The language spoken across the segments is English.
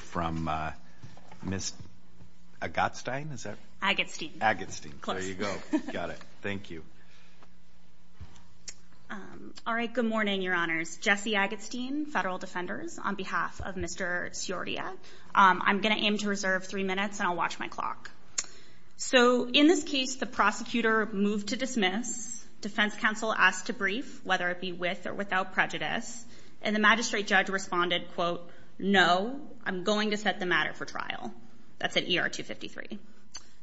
from Miss Agatstein. Is that? Agatstein. Agatstein. There you go. Got it. Thank you. All right. Good morning, Your Honors. Jesse Agatstein, Federal Defenders, on behalf of Mr. Siordia. I'm going to aim to reserve three minutes, and I'll watch my clock. So in this case, the prosecutor moved to dismiss. Defense counsel asked to brief, whether it be with or without, no, I'm going to set the matter for trial. That's at ER 253.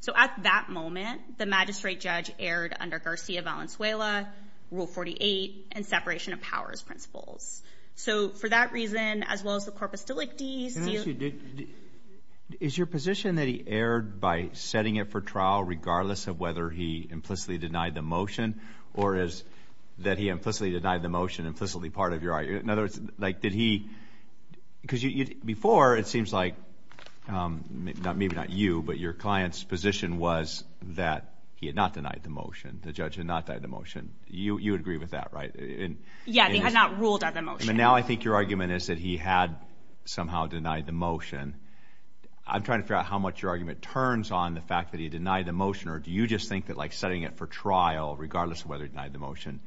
So at that moment, the magistrate judge erred under Garcia Valenzuela, Rule 48, and separation of powers principles. So for that reason, as well as the corpus delictis, do you... Can I ask you, is your position that he erred by setting it for trial, regardless of whether he implicitly denied the motion, or is that he implicitly denied the motion implicitly part of your argument? In other words, did he... Because before, it seems like, maybe not you, but your client's position was that he had not denied the motion. The judge had not denied the motion. You would agree with that, right? Yeah, he had not ruled out the motion. And now I think your argument is that he had somehow denied the motion. I'm trying to figure out how much your argument turns on the fact that he denied the motion, or do you just think that setting it for trial, regardless of whether he denied the motion,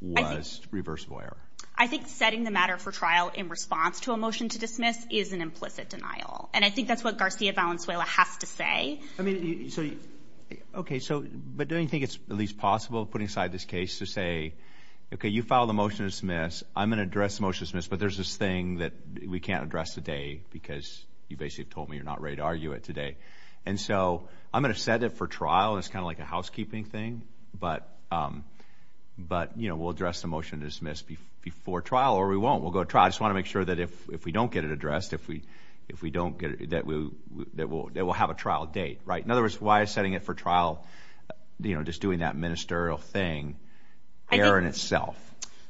was reversible error? I think setting the matter for trial in response to a motion to dismiss is an implicit denial. And I think that's what Garcia Valenzuela has to say. But don't you think it's at least possible, putting aside this case, to say, okay, you filed a motion to dismiss. I'm going to address the motion to dismiss, but there's this thing that we can't address today because you basically have told me you're not ready to argue it today. And so I'm going to set it for trial, and it's kind of like a before trial or we won't. We'll go to trial. I just want to make sure that if we don't get it addressed, that we'll have a trial date, right? In other words, why is setting it for trial, just doing that ministerial thing, error in itself?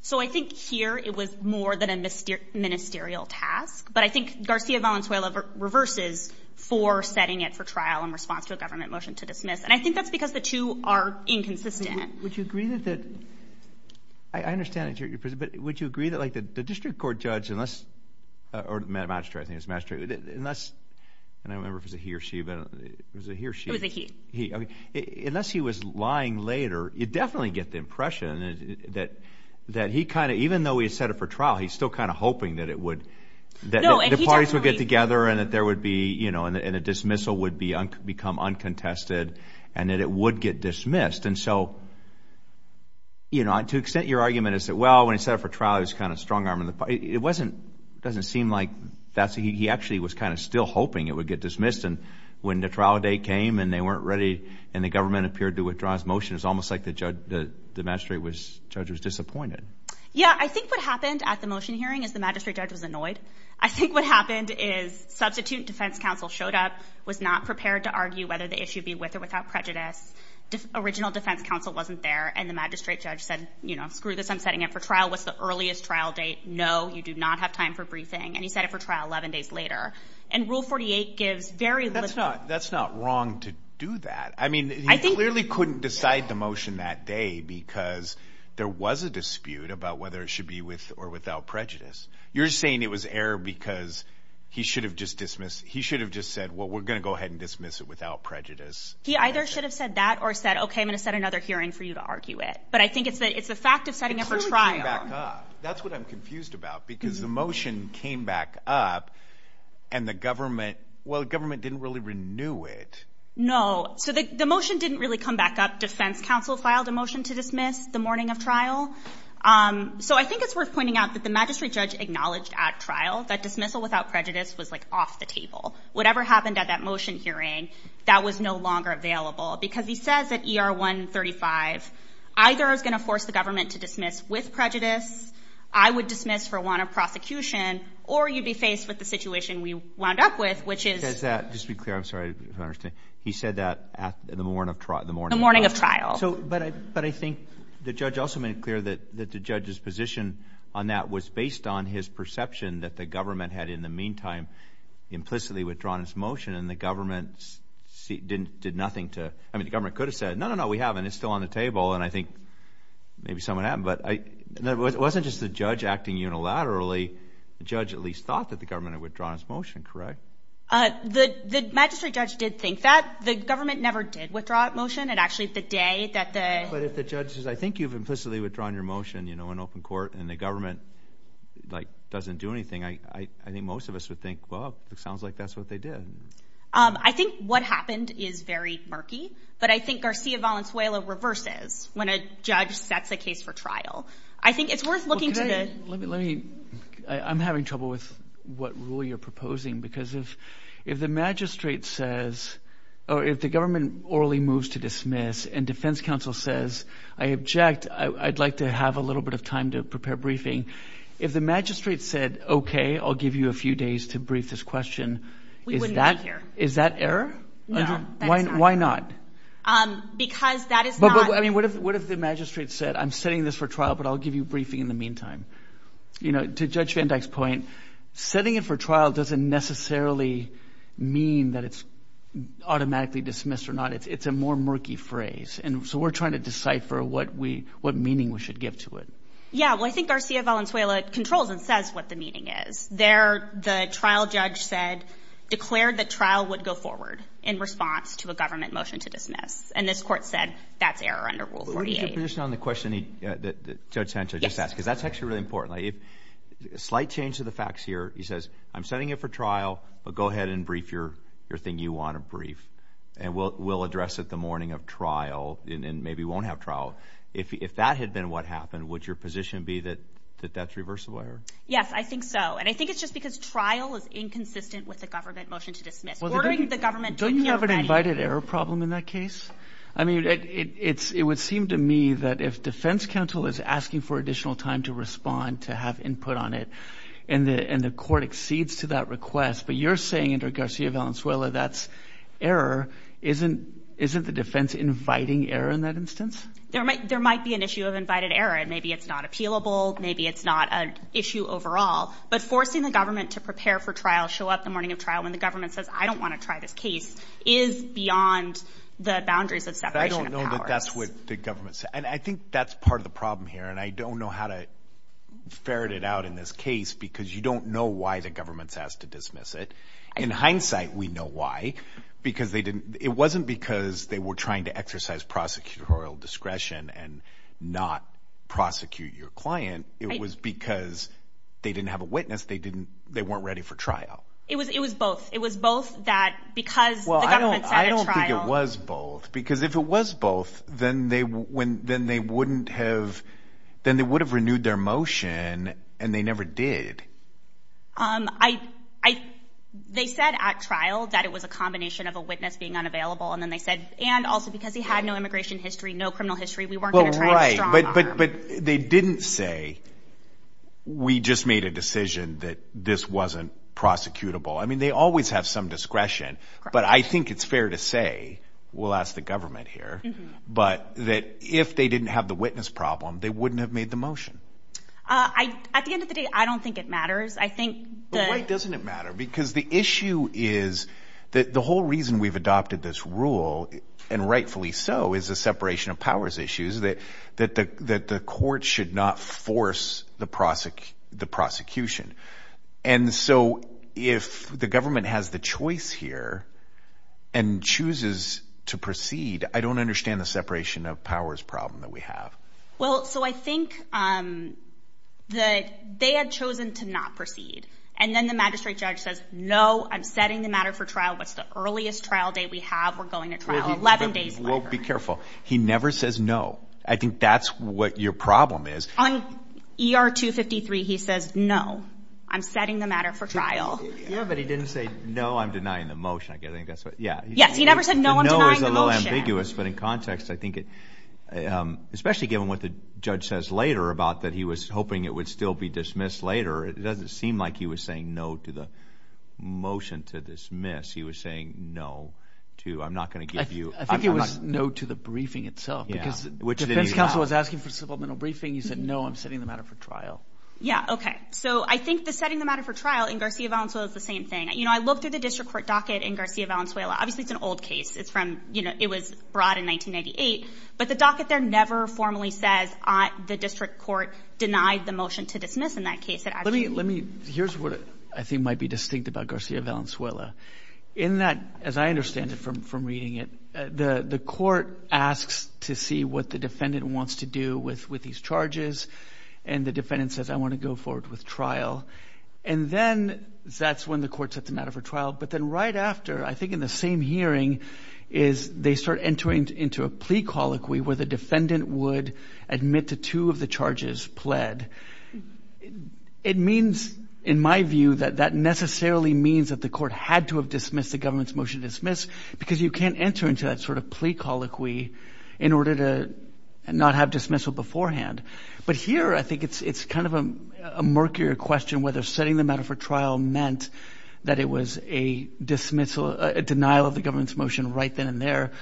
So I think here it was more than a ministerial task, but I think Garcia Valenzuela reverses for setting it for trial in response to a government motion to dismiss. And I think that's because the two are inconsistent. Would you agree that the district court judge, or the magistrate, I think it was the magistrate. And I don't remember if it was a he or she, but it was a he or she. Unless he was lying later, you definitely get the impression that he kind of, even though he set it for trial, he's still kind of hoping that the parties would get together and that there would be, you know, and a dismissal would become uncontested and that it would get dismissed. And so, you know, to an extent, your argument is that, well, when he set it for trial, he was kind of strong-armed. It doesn't seem like that. He actually was kind of still hoping it would get dismissed. And when the trial date came and they weren't ready and the government appeared to withdraw his motion, it's almost like the magistrate judge was disappointed. Yeah, I think what happened at the motion hearing is the magistrate judge was annoyed. I think what happened is substitute defense counsel showed up, was not prepared to argue whether the issue would be with or without prejudice. Original defense counsel wasn't there. And the magistrate judge said, you know, screw this, I'm setting it for trial. What's the earliest trial date? No, you do not have time for briefing. And he set it for trial 11 days later. And Rule 48 gives very little. That's not wrong to do that. I mean, he clearly couldn't decide the motion that day because there was a dispute about whether it should be with or without prejudice. You're saying it was error because he should have just said, well, we're going to go ahead and dismiss it without prejudice. He either should have said that or said, OK, I'm going to set another hearing for you to argue it. But I think it's the fact of setting it for trial. That's what I'm confused about, because the motion came back up and the government, well, government didn't really renew it. No. So the motion didn't really come back up. Defense counsel filed a motion to dismiss the morning of trial. So I think it's worth pointing out that the magistrate judge acknowledged at trial that dismissal without prejudice was like off the table. Whatever happened at that motion hearing, that was no longer available because he says that ER 135 either is going to force the government to dismiss with prejudice. I would dismiss for want of prosecution or you'd be faced with the situation we wound up with, which is that. Just be clear. I'm sorry. He said that at the morn of the morning, the morning of trial. So but I but I think the judge also made it clear that the judge's position on that was based on his perception that the government had in the meantime implicitly withdrawn his motion and the government didn't did nothing to I mean, the government could have said, no, no, no, we haven't. It's still on the table. And I think maybe some of that. But it wasn't just the judge acting unilaterally. The judge at least thought that the government had withdrawn his motion. Correct. The magistrate judge did think that the government never did withdraw a motion. It actually the day that the judge says, I think you've implicitly withdrawn your motion, you know, in open court and the government doesn't do anything. I think most of us would think, well, it sounds like that's what they did. I think what happened is very murky. But I think Garcia Valenzuela reverses when a judge sets a case for trial. I think it's worth looking at it. I'm having trouble with what rule you're proposing, because if if the magistrate says or if the government orally moves to dismiss and defense counsel says, I object, I'd like to have a little bit of time to prepare briefing. If the magistrate said, OK, I'll give you a few days to brief this question. Is that here? Is that error? Why? Why not? Because that is. I mean, what if what if the magistrate said, I'm setting this for trial, but I'll give you a briefing in the meantime. You know, to judge Van Dyck's point, setting it for trial doesn't necessarily mean that it's automatically dismissed or not. It's a more murky phrase. And so we're trying to decipher what we what meaning we should give to it. Yeah, well, I think Garcia Valenzuela controls and says what the meaning is there. The trial judge said declared the trial would go forward in response to a government motion to dismiss. And this court said that's error under rule. On the question that Judge Sancho just asked, because that's actually really important. If a slight change to the facts here, he says, I'm setting it for trial, but go ahead and brief your your thing. You want to brief and we'll address it the morning of trial and maybe won't have trial. If that had been what happened, would your position be that that's reversible? Yes, I think so. And I think it's just because trial is inconsistent with the government motion to dismiss the government. Don't you have an invited error problem in that case? I mean, it's it would seem to me that if defense counsel is asking for additional time to respond to have input on it and the and the court exceeds to that request. But you're saying under Garcia Valenzuela, that's error. Isn't isn't the defense inviting error in that instance? There might there might be an issue of invited error and maybe it's not appealable. Maybe it's not an issue overall. But forcing the government to prepare for trial show up the morning of trial when the government says, I don't want to try this case is beyond the boundaries of separation. That's what the government said. And I think that's part of the problem here. And I don't know how to ferret it out in this case because you don't know why the government's asked to dismiss it. In hindsight, we know why, because they didn't. It wasn't because they were trying to exercise prosecutorial discretion and not prosecute your client. It was because they didn't have a witness. They didn't. They weren't ready for trial. It was it was both. It was both that because. Well, I don't I don't think it was both, because if it was both, then they when then they wouldn't have then they would have renewed their motion and they never did. I I they said at trial that it was a combination of a witness being unavailable. And then they said and also because he had no immigration history, no criminal history. We weren't right. But but but they didn't say we just made a decision that this wasn't prosecutable. I mean, they always have some discretion, but I think it's fair to say we'll ask the government here, but that if they didn't have the witness problem, they wouldn't have made the motion. I at the end of the day, I don't think it matters. I think it doesn't matter because the issue is that the whole reason we've adopted this rule, and rightfully so, is a separation of powers issues that that that the court should not force the prosecute the prosecution. And so if the government has the choice here and chooses to proceed, I don't understand the separation of powers problem that we have. Well, so I think that they had chosen to not proceed. And then the magistrate judge says, No, I'm setting the matter for trial. What's the earliest trial date we have? We're going to trial 11 days. We'll be careful. He never says no. I think that's what your problem is. On ER 253, he says, No, I'm setting the matter for trial. Yeah, but he didn't say no. I'm denying the motion. I guess I think that's what. Yeah. Yes. He never said no. No, it's a little ambiguous. But in context, I think it especially given what the judge says later about that he was hoping it would still be dismissed later. It doesn't seem like he was saying no to the motion to dismiss. He was saying no to I'm not going to give you. I think it was no to the briefing itself, which the defense counsel was asking for supplemental briefing. He said, No, I'm setting the matter for trial. Yeah. Okay. So I think the setting the matter for trial in Garcia Valenzuela is the same thing. You know, I looked at the district court docket in Garcia Valenzuela. Obviously, it's an old case. It's from you know, it was brought in 1998. But the docket there never formally says the district court denied the motion to dismiss in that case. Let me let me here's what I think might be distinct about Garcia Valenzuela in that, as I understand it from from reading it, the court asks to see what the defendant wants to do with with these charges. And the defendant says, I want to go forward with trial. And then that's when the court set the matter for trial. But then right after, I think in the same hearing is they start entering into a plea colloquy where the defendant would admit to two of the charges pled. It means, in my view, that that necessarily means that the court had to have dismissed the government's motion to dismiss because you can't enter into that sort of plea colloquy in order to not have dismissal beforehand. But here, I think it's it's kind of a murkier question whether setting the matter for trial meant that it was a dismissal, a denial of the government's motion right then and there,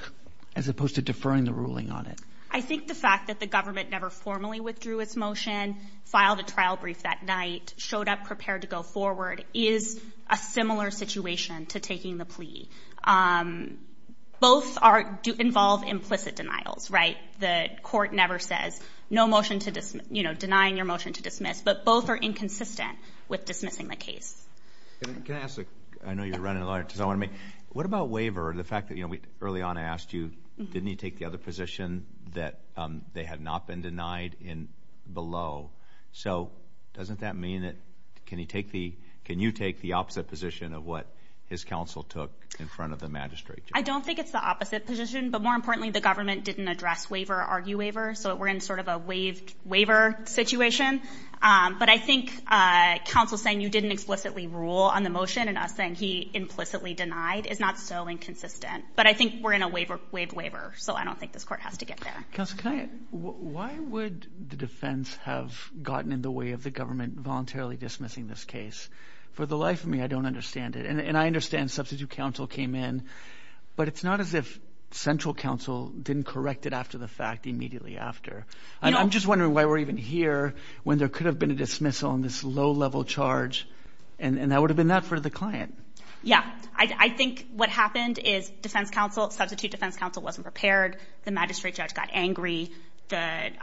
as opposed to deferring the ruling on it. I think the fact that the government never formally withdrew its motion, filed a trial brief that night, showed up prepared to go forward is a similar situation to taking the plea. Both involve implicit denials, right? The court never says no motion to dismiss, denying your motion to dismiss. But both are inconsistent with dismissing the case. What about waiver? The fact that early on I asked you, didn't he take the other position that they had not been denied below? So doesn't that mean that can you take the opposite position of what his counsel took in front of the magistrate? I don't think it's the opposite position, but more importantly, the government didn't address waiver or argue waiver. So we're in sort of a waived waiver situation. But I think counsel saying you didn't explicitly rule on the motion and us saying he implicitly denied is not so inconsistent. But I think we're in a waived waiver. So I don't think this court has to get there. Why would the defense have gotten in the way of the government voluntarily dismissing this case? For the life of me, I don't understand it. And I understand substitute counsel came in, but it's not as if central counsel didn't correct it after the fact immediately after. I'm just wondering why we're even here when there could have been a dismissal on this low level charge. And that would have been that for the client. Yeah, I think what happened is defense counsel, substitute defense counsel wasn't prepared. The magistrate judge got angry. But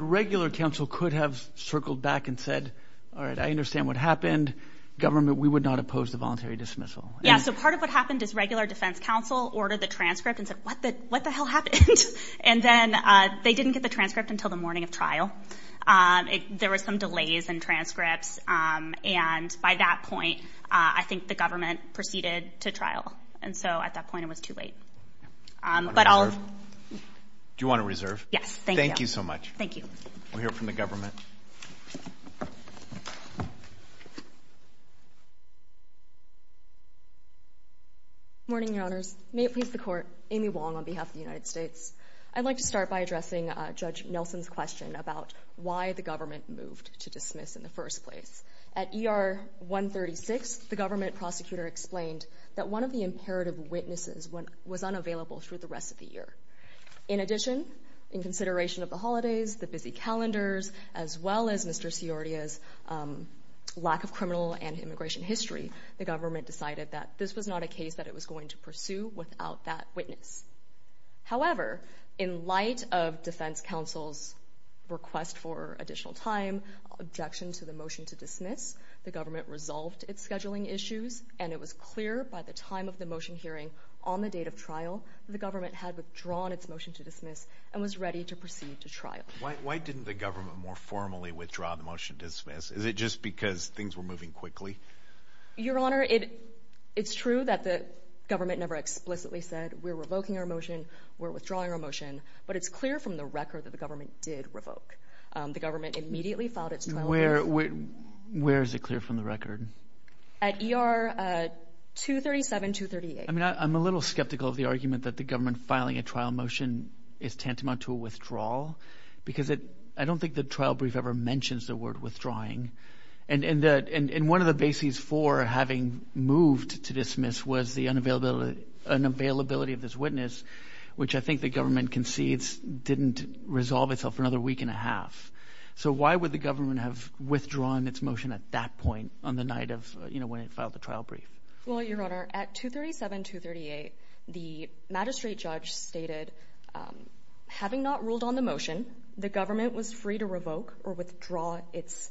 regular counsel could have circled back and said, all right, I understand what happened. Government, we would not oppose the voluntary dismissal. Yeah. So part of what happened is regular defense counsel ordered the transcript and said, what the hell happened? And then they didn't get the transcript until the morning of trial. There were some delays in transcripts. And by that point, I think the government proceeded to trial. And so at that point, it was too late. Do you want to reserve? Yes. Thank you so much. Thank you. We'll hear from the government. Morning, Your Honors. May it please the Court. Amy Wong on behalf of the United States. I'd like to start by addressing Judge Nelson's question about why the government moved to dismiss in the first place. At ER 136, the government prosecutor explained that one of the imperative witnesses was unavailable for the rest of the year. In addition, in consideration of the holidays, the busy calendars, as well as Mr. Ciordia's lack of criminal and immigration history, the government decided that this was not a case that it was going to go to trial. In response to the defense counsel's request for additional time, objection to the motion to dismiss, the government resolved its scheduling issues, and it was clear by the time of the motion hearing on the date of trial, the government had withdrawn its motion to dismiss and was ready to proceed to trial. Why didn't the government more formally withdraw the motion to dismiss? Is it just because things were moving quickly? Your Honor, it's true that the government never explicitly said, we're revoking our motion, we're withdrawing our motion, but it's clear from the record that the government did revoke. The government immediately filed its trial brief. Where is it clear from the record? At ER 237, 238. I'm a little skeptical of the argument that the government filing a trial motion is tantamount to a withdrawal, because I don't think the trial brief ever mentions the word withdrawing. And one of the bases for having moved to dismiss was the unavailability of this witness, which I think the government concedes didn't resolve itself for another week and a half. So why would the government have withdrawn its motion at that point on the night of when it filed the trial brief? Well, Your Honor, at 237, 238, the magistrate judge stated, having not ruled on the motion, the government was free to revoke or withdraw its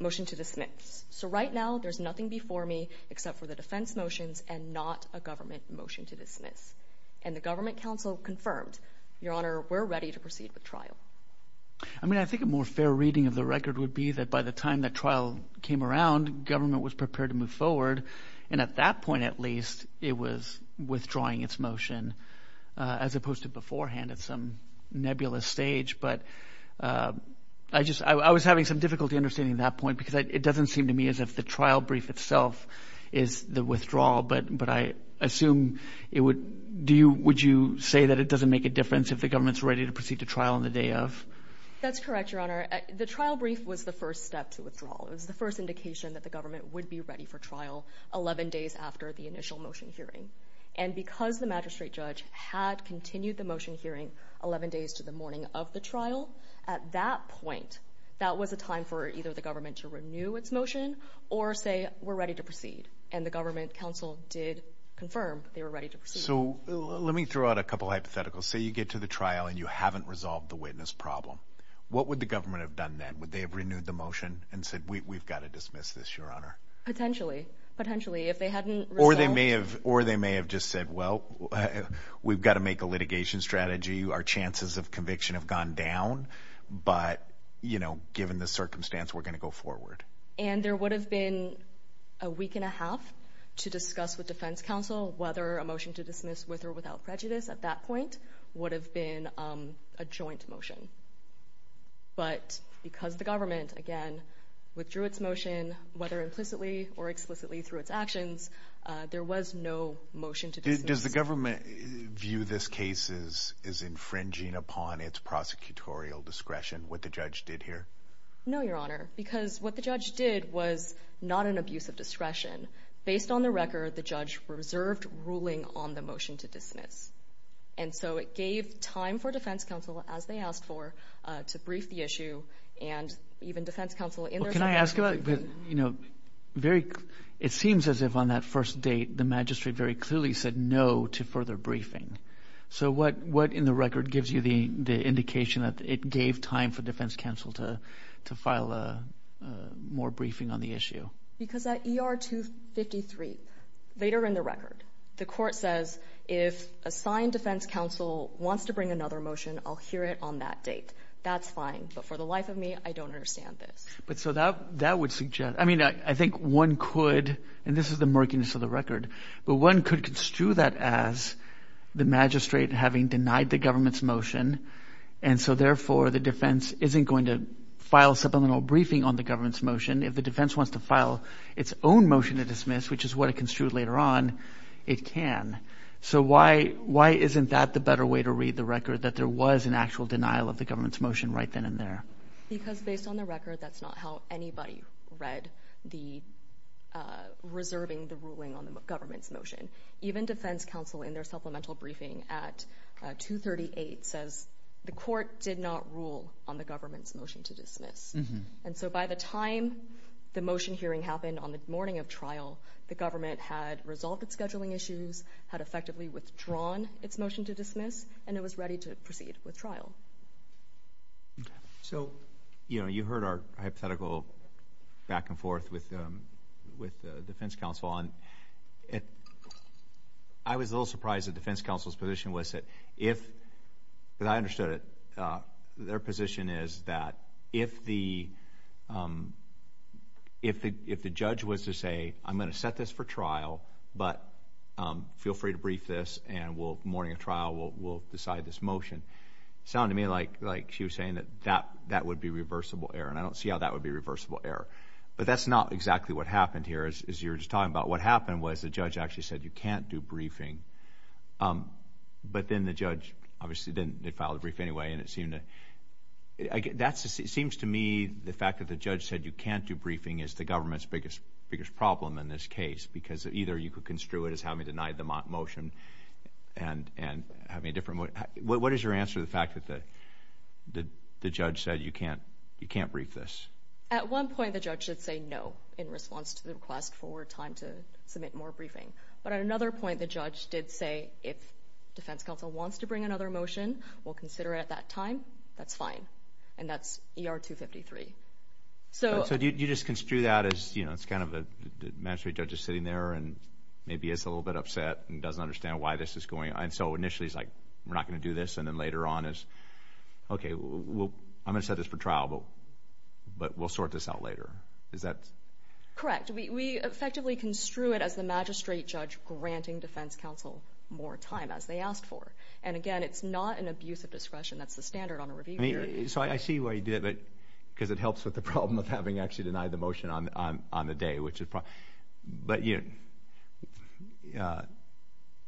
motion to dismiss. So right now, there's nothing before me except for the defense motions and not a government motion to dismiss. And the government counsel confirmed, Your Honor, we're ready to proceed with trial. I mean, I think a more fair reading of the record would be that by the time the trial came around, government was prepared to move forward. And at that point, at least, it was at that stage. But I was having some difficulty understanding that point, because it doesn't seem to me as if the trial brief itself is the withdrawal. But I assume it would, would you say that it doesn't make a difference if the government's ready to proceed to trial on the day of? That's correct, Your Honor. The trial brief was the first step to withdraw. It was the first indication that the government would be ready for trial 11 days after the initial motion hearing. And because the magistrate judge had continued the motion hearing 11 days to the morning of the trial, at that point, that was a time for either the government to renew its motion or say, we're ready to proceed. And the government counsel did confirm they were ready to proceed. So let me throw out a couple of hypotheticals. Say you get to the trial and you haven't resolved the witness problem. What would the government have done then? Would they have renewed the motion and said, we've got to make a litigation strategy? Our chances of conviction have gone down. But given the circumstance, we're going to go forward. And there would have been a week and a half to discuss with defense counsel whether a motion to dismiss with or without prejudice at that point would have been a joint motion. But because the government, again, withdrew its motion, whether implicitly or explicitly through its actions, there was no motion to dismiss. Does the government view this case as infringing upon its prosecutorial discretion, what the judge did here? No, Your Honor, because what the judge did was not an abuse of discretion. Based on the record, the judge reserved ruling on the motion to dismiss. And so it gave time for defense counsel, as they asked for, to brief the issue. And even defense counsel in their subpoena... It seems as if on that first date, the magistrate very clearly said no to further briefing. So what in the record gives you the indication that it gave time for defense counsel to file more briefing on the issue? Because at ER 253, later in the record, the court says, if assigned defense counsel wants to bring another motion, I'll hear it on that date. That's fine. But for the life of me, I don't understand this. But so that would suggest... I mean, I think one could, and this is the murkiness of the record, but one could construe that as the magistrate having denied the government's motion. And so, therefore, the defense isn't going to file supplemental briefing on the government's motion. If the defense wants to file its own motion to dismiss, which is what it construed later on, it can. So why isn't that the better way to read the record, that there was an actual denial of the government's motion right then and there? Because based on the record, that's not how anybody read the... Even defense counsel in their supplemental briefing at 238 says, the court did not rule on the government's motion to dismiss. And so by the time the motion hearing happened on the morning of trial, the government had resolved its scheduling issues, had effectively withdrawn its motion to dismiss, and it was ready to proceed with trial. So, you know, you heard our hypothetical back and forth with the defense counsel, and I was a little surprised that defense counsel's position was that if... Because I understood it. Their position is that if the judge was to say, I'm going to set this for trial, but feel free to brief this, and the morning of trial we'll decide this motion, it sounded to me like she was saying that that would be reversible error, and I don't see how that would be reversible error. But that's not exactly what happened here, as you were just talking about. What happened was the judge actually said you can't do briefing, but then the judge obviously didn't file the brief anyway, and it seemed to... It seems to me the fact that the judge said you can't do briefing is the government's biggest problem in this case, because either you could construe it as having denied the motion and having a different... What is your answer to the fact that the judge said you can't brief this? At one point the judge did say no in response to the request for time to submit more briefing, but at another point the judge did say if defense counsel wants to bring another motion, we'll consider it at that time, that's fine, and that's ER 253. So do you just construe that as, you know, it's kind of the magistrate judge is sitting there and maybe is a little bit upset and doesn't understand why this is going on, and so initially is like we're not going to do this, and then later on is, okay, I'm going to set this for trial, but we'll sort this out later. Is that... Correct. We effectively construe it as the magistrate judge granting defense counsel more time, as they asked for. And again, it's not an abuse of discretion. That's the standard on a review hearing. So I see why you did it, because it helps with the problem of having actually denied the motion on the day, but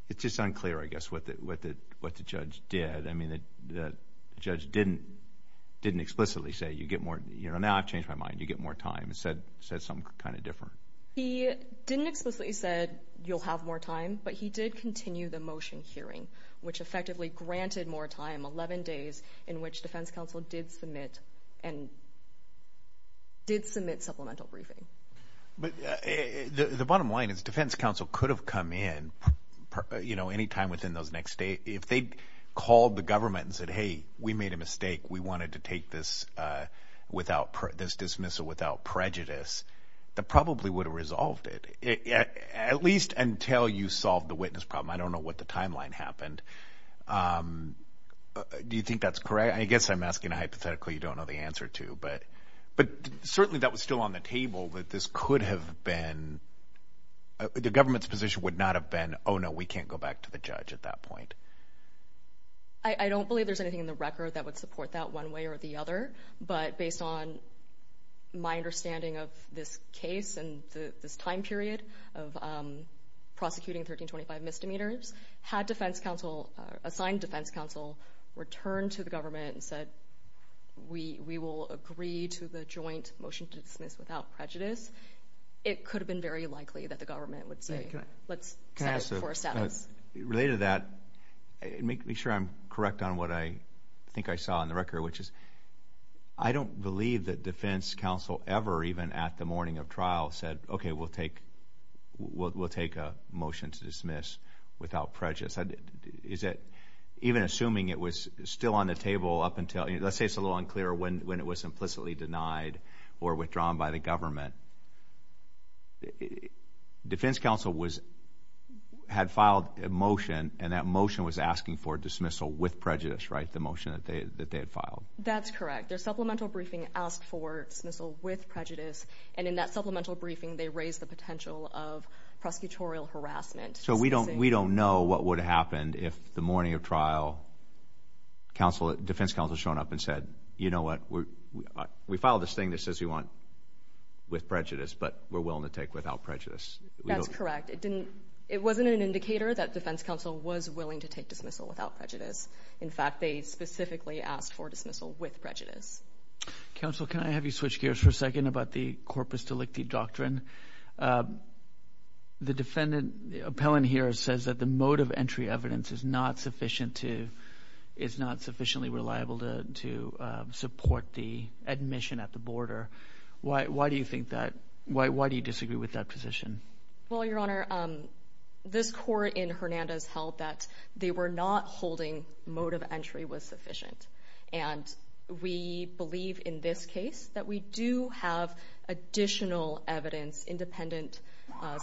it's just unclear, I guess, what the judge did. I mean, the judge didn't explicitly say, you know, now I've changed my mind, you get more time. It said something kind of different. He didn't explicitly say you'll have more time, but he did continue the motion hearing, which effectively granted more time, 11 days, in which defense counsel did submit supplemental briefing. But the bottom line is defense counsel could have come in, you know, any time within those next days. If they'd called the government and said, hey, we made a mistake, we wanted to take this dismissal without prejudice, that probably would have resolved it, at least until you solved the witness problem. I don't know what the timeline happened. Do you think that's correct? I guess I'm asking a hypothetical you don't know the answer to, but certainly that was still on the table that this could have been, the government's position would not have been, oh, no, we can't go back to the judge at that point. I don't believe there's anything in the record that would support that one way or the other, but based on my understanding of this case and this time period of prosecuting 1325 misdemeanors, had defense counsel, assigned defense counsel, returned to the government and said, we will agree to the joint motion to dismiss without prejudice, it could have been very likely that the government would say, let's set it for a status. Related to that, make sure I'm correct on what I think I saw in the record, which is I don't believe that defense counsel ever, even at the morning of trial, said, okay, we'll take a motion to dismiss without prejudice. Even assuming it was still on the table up until, let's say it's a little unclear when it was implicitly denied or withdrawn by the government, defense counsel had filed a motion, and that motion was asking for dismissal with prejudice, right, the motion that they had filed? That's correct. Their supplemental briefing asked for dismissal with prejudice, and in that supplemental briefing they raised the potential of prosecutorial harassment. So we don't know what would have happened if the morning of trial defense counsel showed up and said, you know what, we filed this thing that says we want with prejudice, but we're willing to take without prejudice. That's correct. It wasn't an indicator that defense counsel was willing to take dismissal without prejudice. In fact, they specifically asked for dismissal with prejudice. Counsel, can I have you switch gears for a second about the corpus delicti doctrine? The defendant appellant here says that the mode of entry evidence is not sufficient to, is not sufficiently reliable to support the admission at the border. Why do you think that? Why do you disagree with that position? Well, Your Honor, this court in Hernandez held that they were not holding mode of entry was sufficient, and we believe in this case that we do have additional evidence, independent,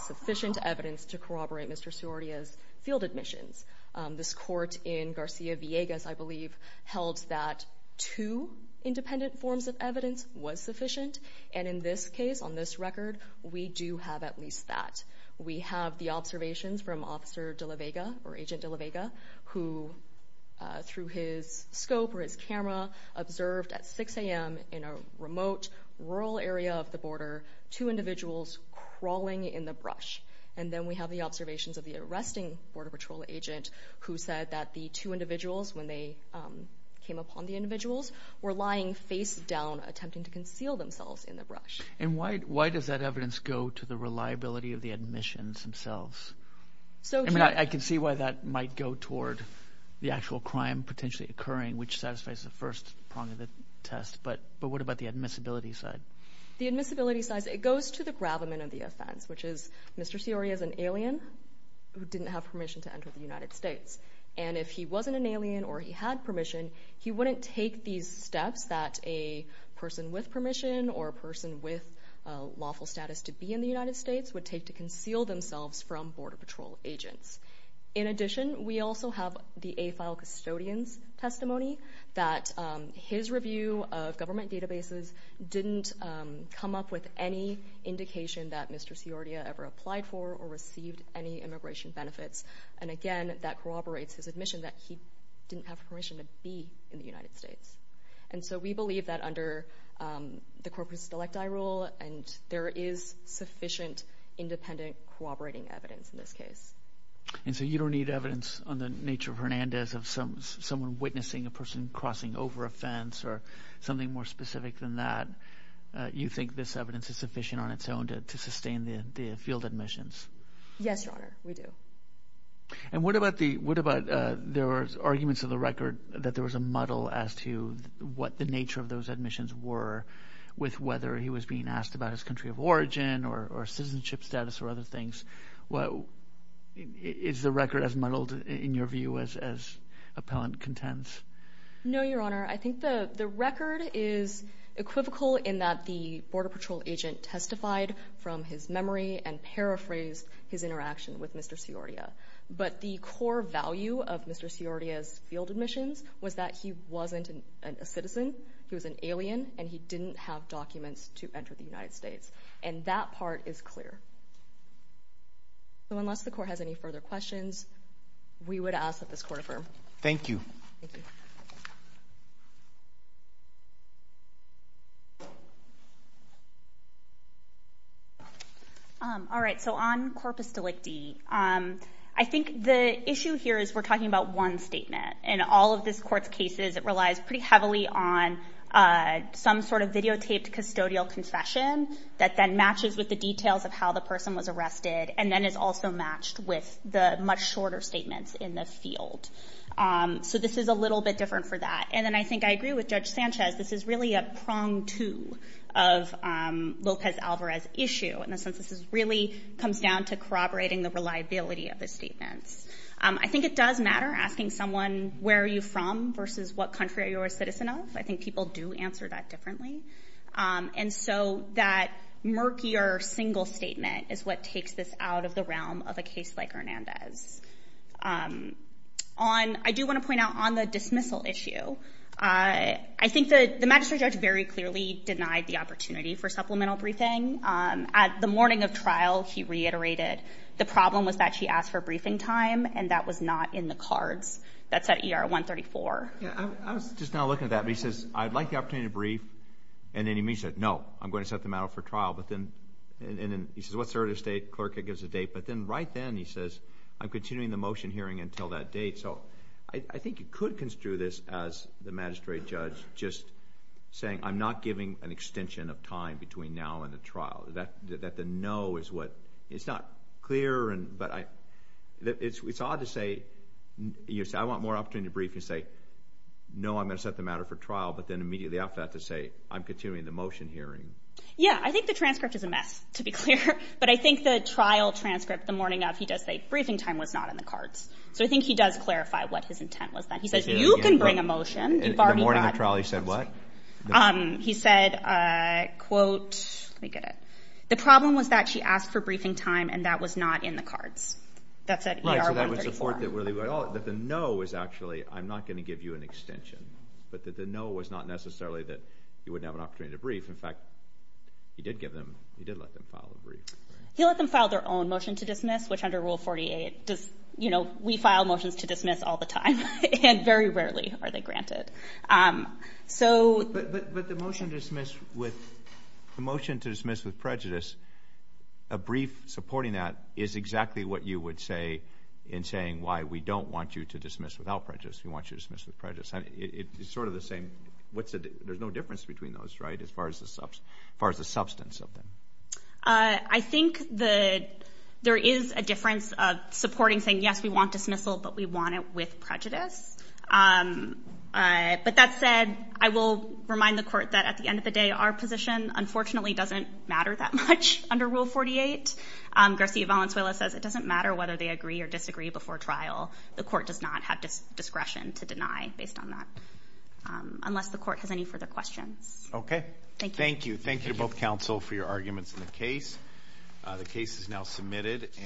sufficient evidence to corroborate Mr. Sordia's field admissions. This court in Garcia-Villegas, I believe, held that two independent forms of evidence was sufficient, and in this case, on this record, we do have at least that. We have the observations from Officer DeLaVega, or Agent DeLaVega, who, through his scope or his camera, observed at 6 a.m. in a remote rural area of the border, two individuals crawling in the brush. And then we have the observations of the arresting Border Patrol agent, who said that the two individuals, when they came upon the individuals, And why does that evidence go to the reliability of the admissions themselves? I mean, I can see why that might go toward the actual crime potentially occurring, which satisfies the first prong of the test, but what about the admissibility side? The admissibility side, it goes to the gravamen of the offense, which is Mr. Sordia is an alien who didn't have permission to enter the United States. And if he wasn't an alien or he had permission, he wouldn't take these steps that a person with permission or a person with lawful status to be in the United States would take to conceal themselves from Border Patrol agents. In addition, we also have the AFILE custodian's testimony that his review of government databases didn't come up with any indication that Mr. Sordia ever applied for or received any immigration benefits. And, again, that corroborates his admission that he didn't have permission to be in the United States. And so we believe that under the corpus delicti rule, and there is sufficient independent corroborating evidence in this case. And so you don't need evidence on the nature of Hernandez, of someone witnessing a person crossing over a fence, or something more specific than that. You think this evidence is sufficient on its own to sustain the field admissions? Yes, Your Honor, we do. And what about the arguments of the record that there was a muddle as to what the nature of those admissions were with whether he was being asked about his country of origin or citizenship status or other things? Is the record as muddled, in your view, as appellant contends? No, Your Honor. I think the record is equivocal in that the Border Patrol agent testified from his memory and paraphrased his interaction with Mr. Siordia. But the core value of Mr. Siordia's field admissions was that he wasn't a citizen, he was an alien, and he didn't have documents to enter the United States. And that part is clear. So unless the Court has any further questions, Thank you. Thank you. All right, so on corpus delicti, I think the issue here is we're talking about one statement. In all of this Court's cases, it relies pretty heavily on some sort of videotaped custodial confession that then matches with the details of how the person was arrested and then is also matched with the much shorter statements in the field. So this is a little bit different for that. And then I think I agree with Judge Sanchez. This is really a prong two of Lopez Alvarez's issue in the sense this really comes down to corroborating the reliability of the statements. I think it does matter asking someone, where are you from versus what country are you a citizen of? I think people do answer that differently. And so that murkier single statement is what takes this out of the realm of a case like Hernandez. I do want to point out on the dismissal issue, I think the magistrate judge very clearly denied the opportunity for supplemental briefing. At the morning of trial, he reiterated the problem was that she asked for briefing time, and that was not in the cards. That's at ER 134. I was just now looking at that. He says, I'd like the opportunity to brief. And then he said, no, I'm going to set them out for trial. And then he says, what's the earliest date? The clerk gives the date. But then right then he says, I'm continuing the motion hearing until that date. So I think you could construe this as the magistrate judge just saying, I'm not giving an extension of time between now and the trial. That the no is what, it's not clear, but it's odd to say, you say, I want more opportunity to brief. You say, no, I'm going to set them out for trial. But then immediately after that to say, I'm continuing the motion hearing. Yeah, I think the transcript is a mess, to be clear. But I think the trial transcript the morning of, he does say briefing time was not in the cards. So I think he does clarify what his intent was then. He says, you can bring a motion. In the morning of trial he said what? He said, quote, let me get it. The problem was that she asked for briefing time and that was not in the cards. That's at ER 134. Right, so that was the point that the no was actually, I'm not going to give you an extension. But that the no was not necessarily that you wouldn't have an opportunity to brief. In fact, he did give them, he did let them file a brief. He let them file their own motion to dismiss, which under Rule 48 does, you know, we file motions to dismiss all the time. And very rarely are they granted. But the motion to dismiss with prejudice, a brief supporting that is exactly what you would say in saying why we don't want you to dismiss without prejudice. We want you to dismiss with prejudice. It's sort of the same. There's no difference between those, right, as far as the substance of them. I think that there is a difference of supporting saying, yes, we want dismissal, but we want it with prejudice. But that said, I will remind the court that at the end of the day, our position unfortunately doesn't matter that much under Rule 48. Garcia Valenzuela says it doesn't matter whether they agree or disagree before trial. The court does not have discretion to deny based on that, unless the court has any further questions. Okay. Thank you. Thank you to both counsel for your arguments in the case. The case is now submitted.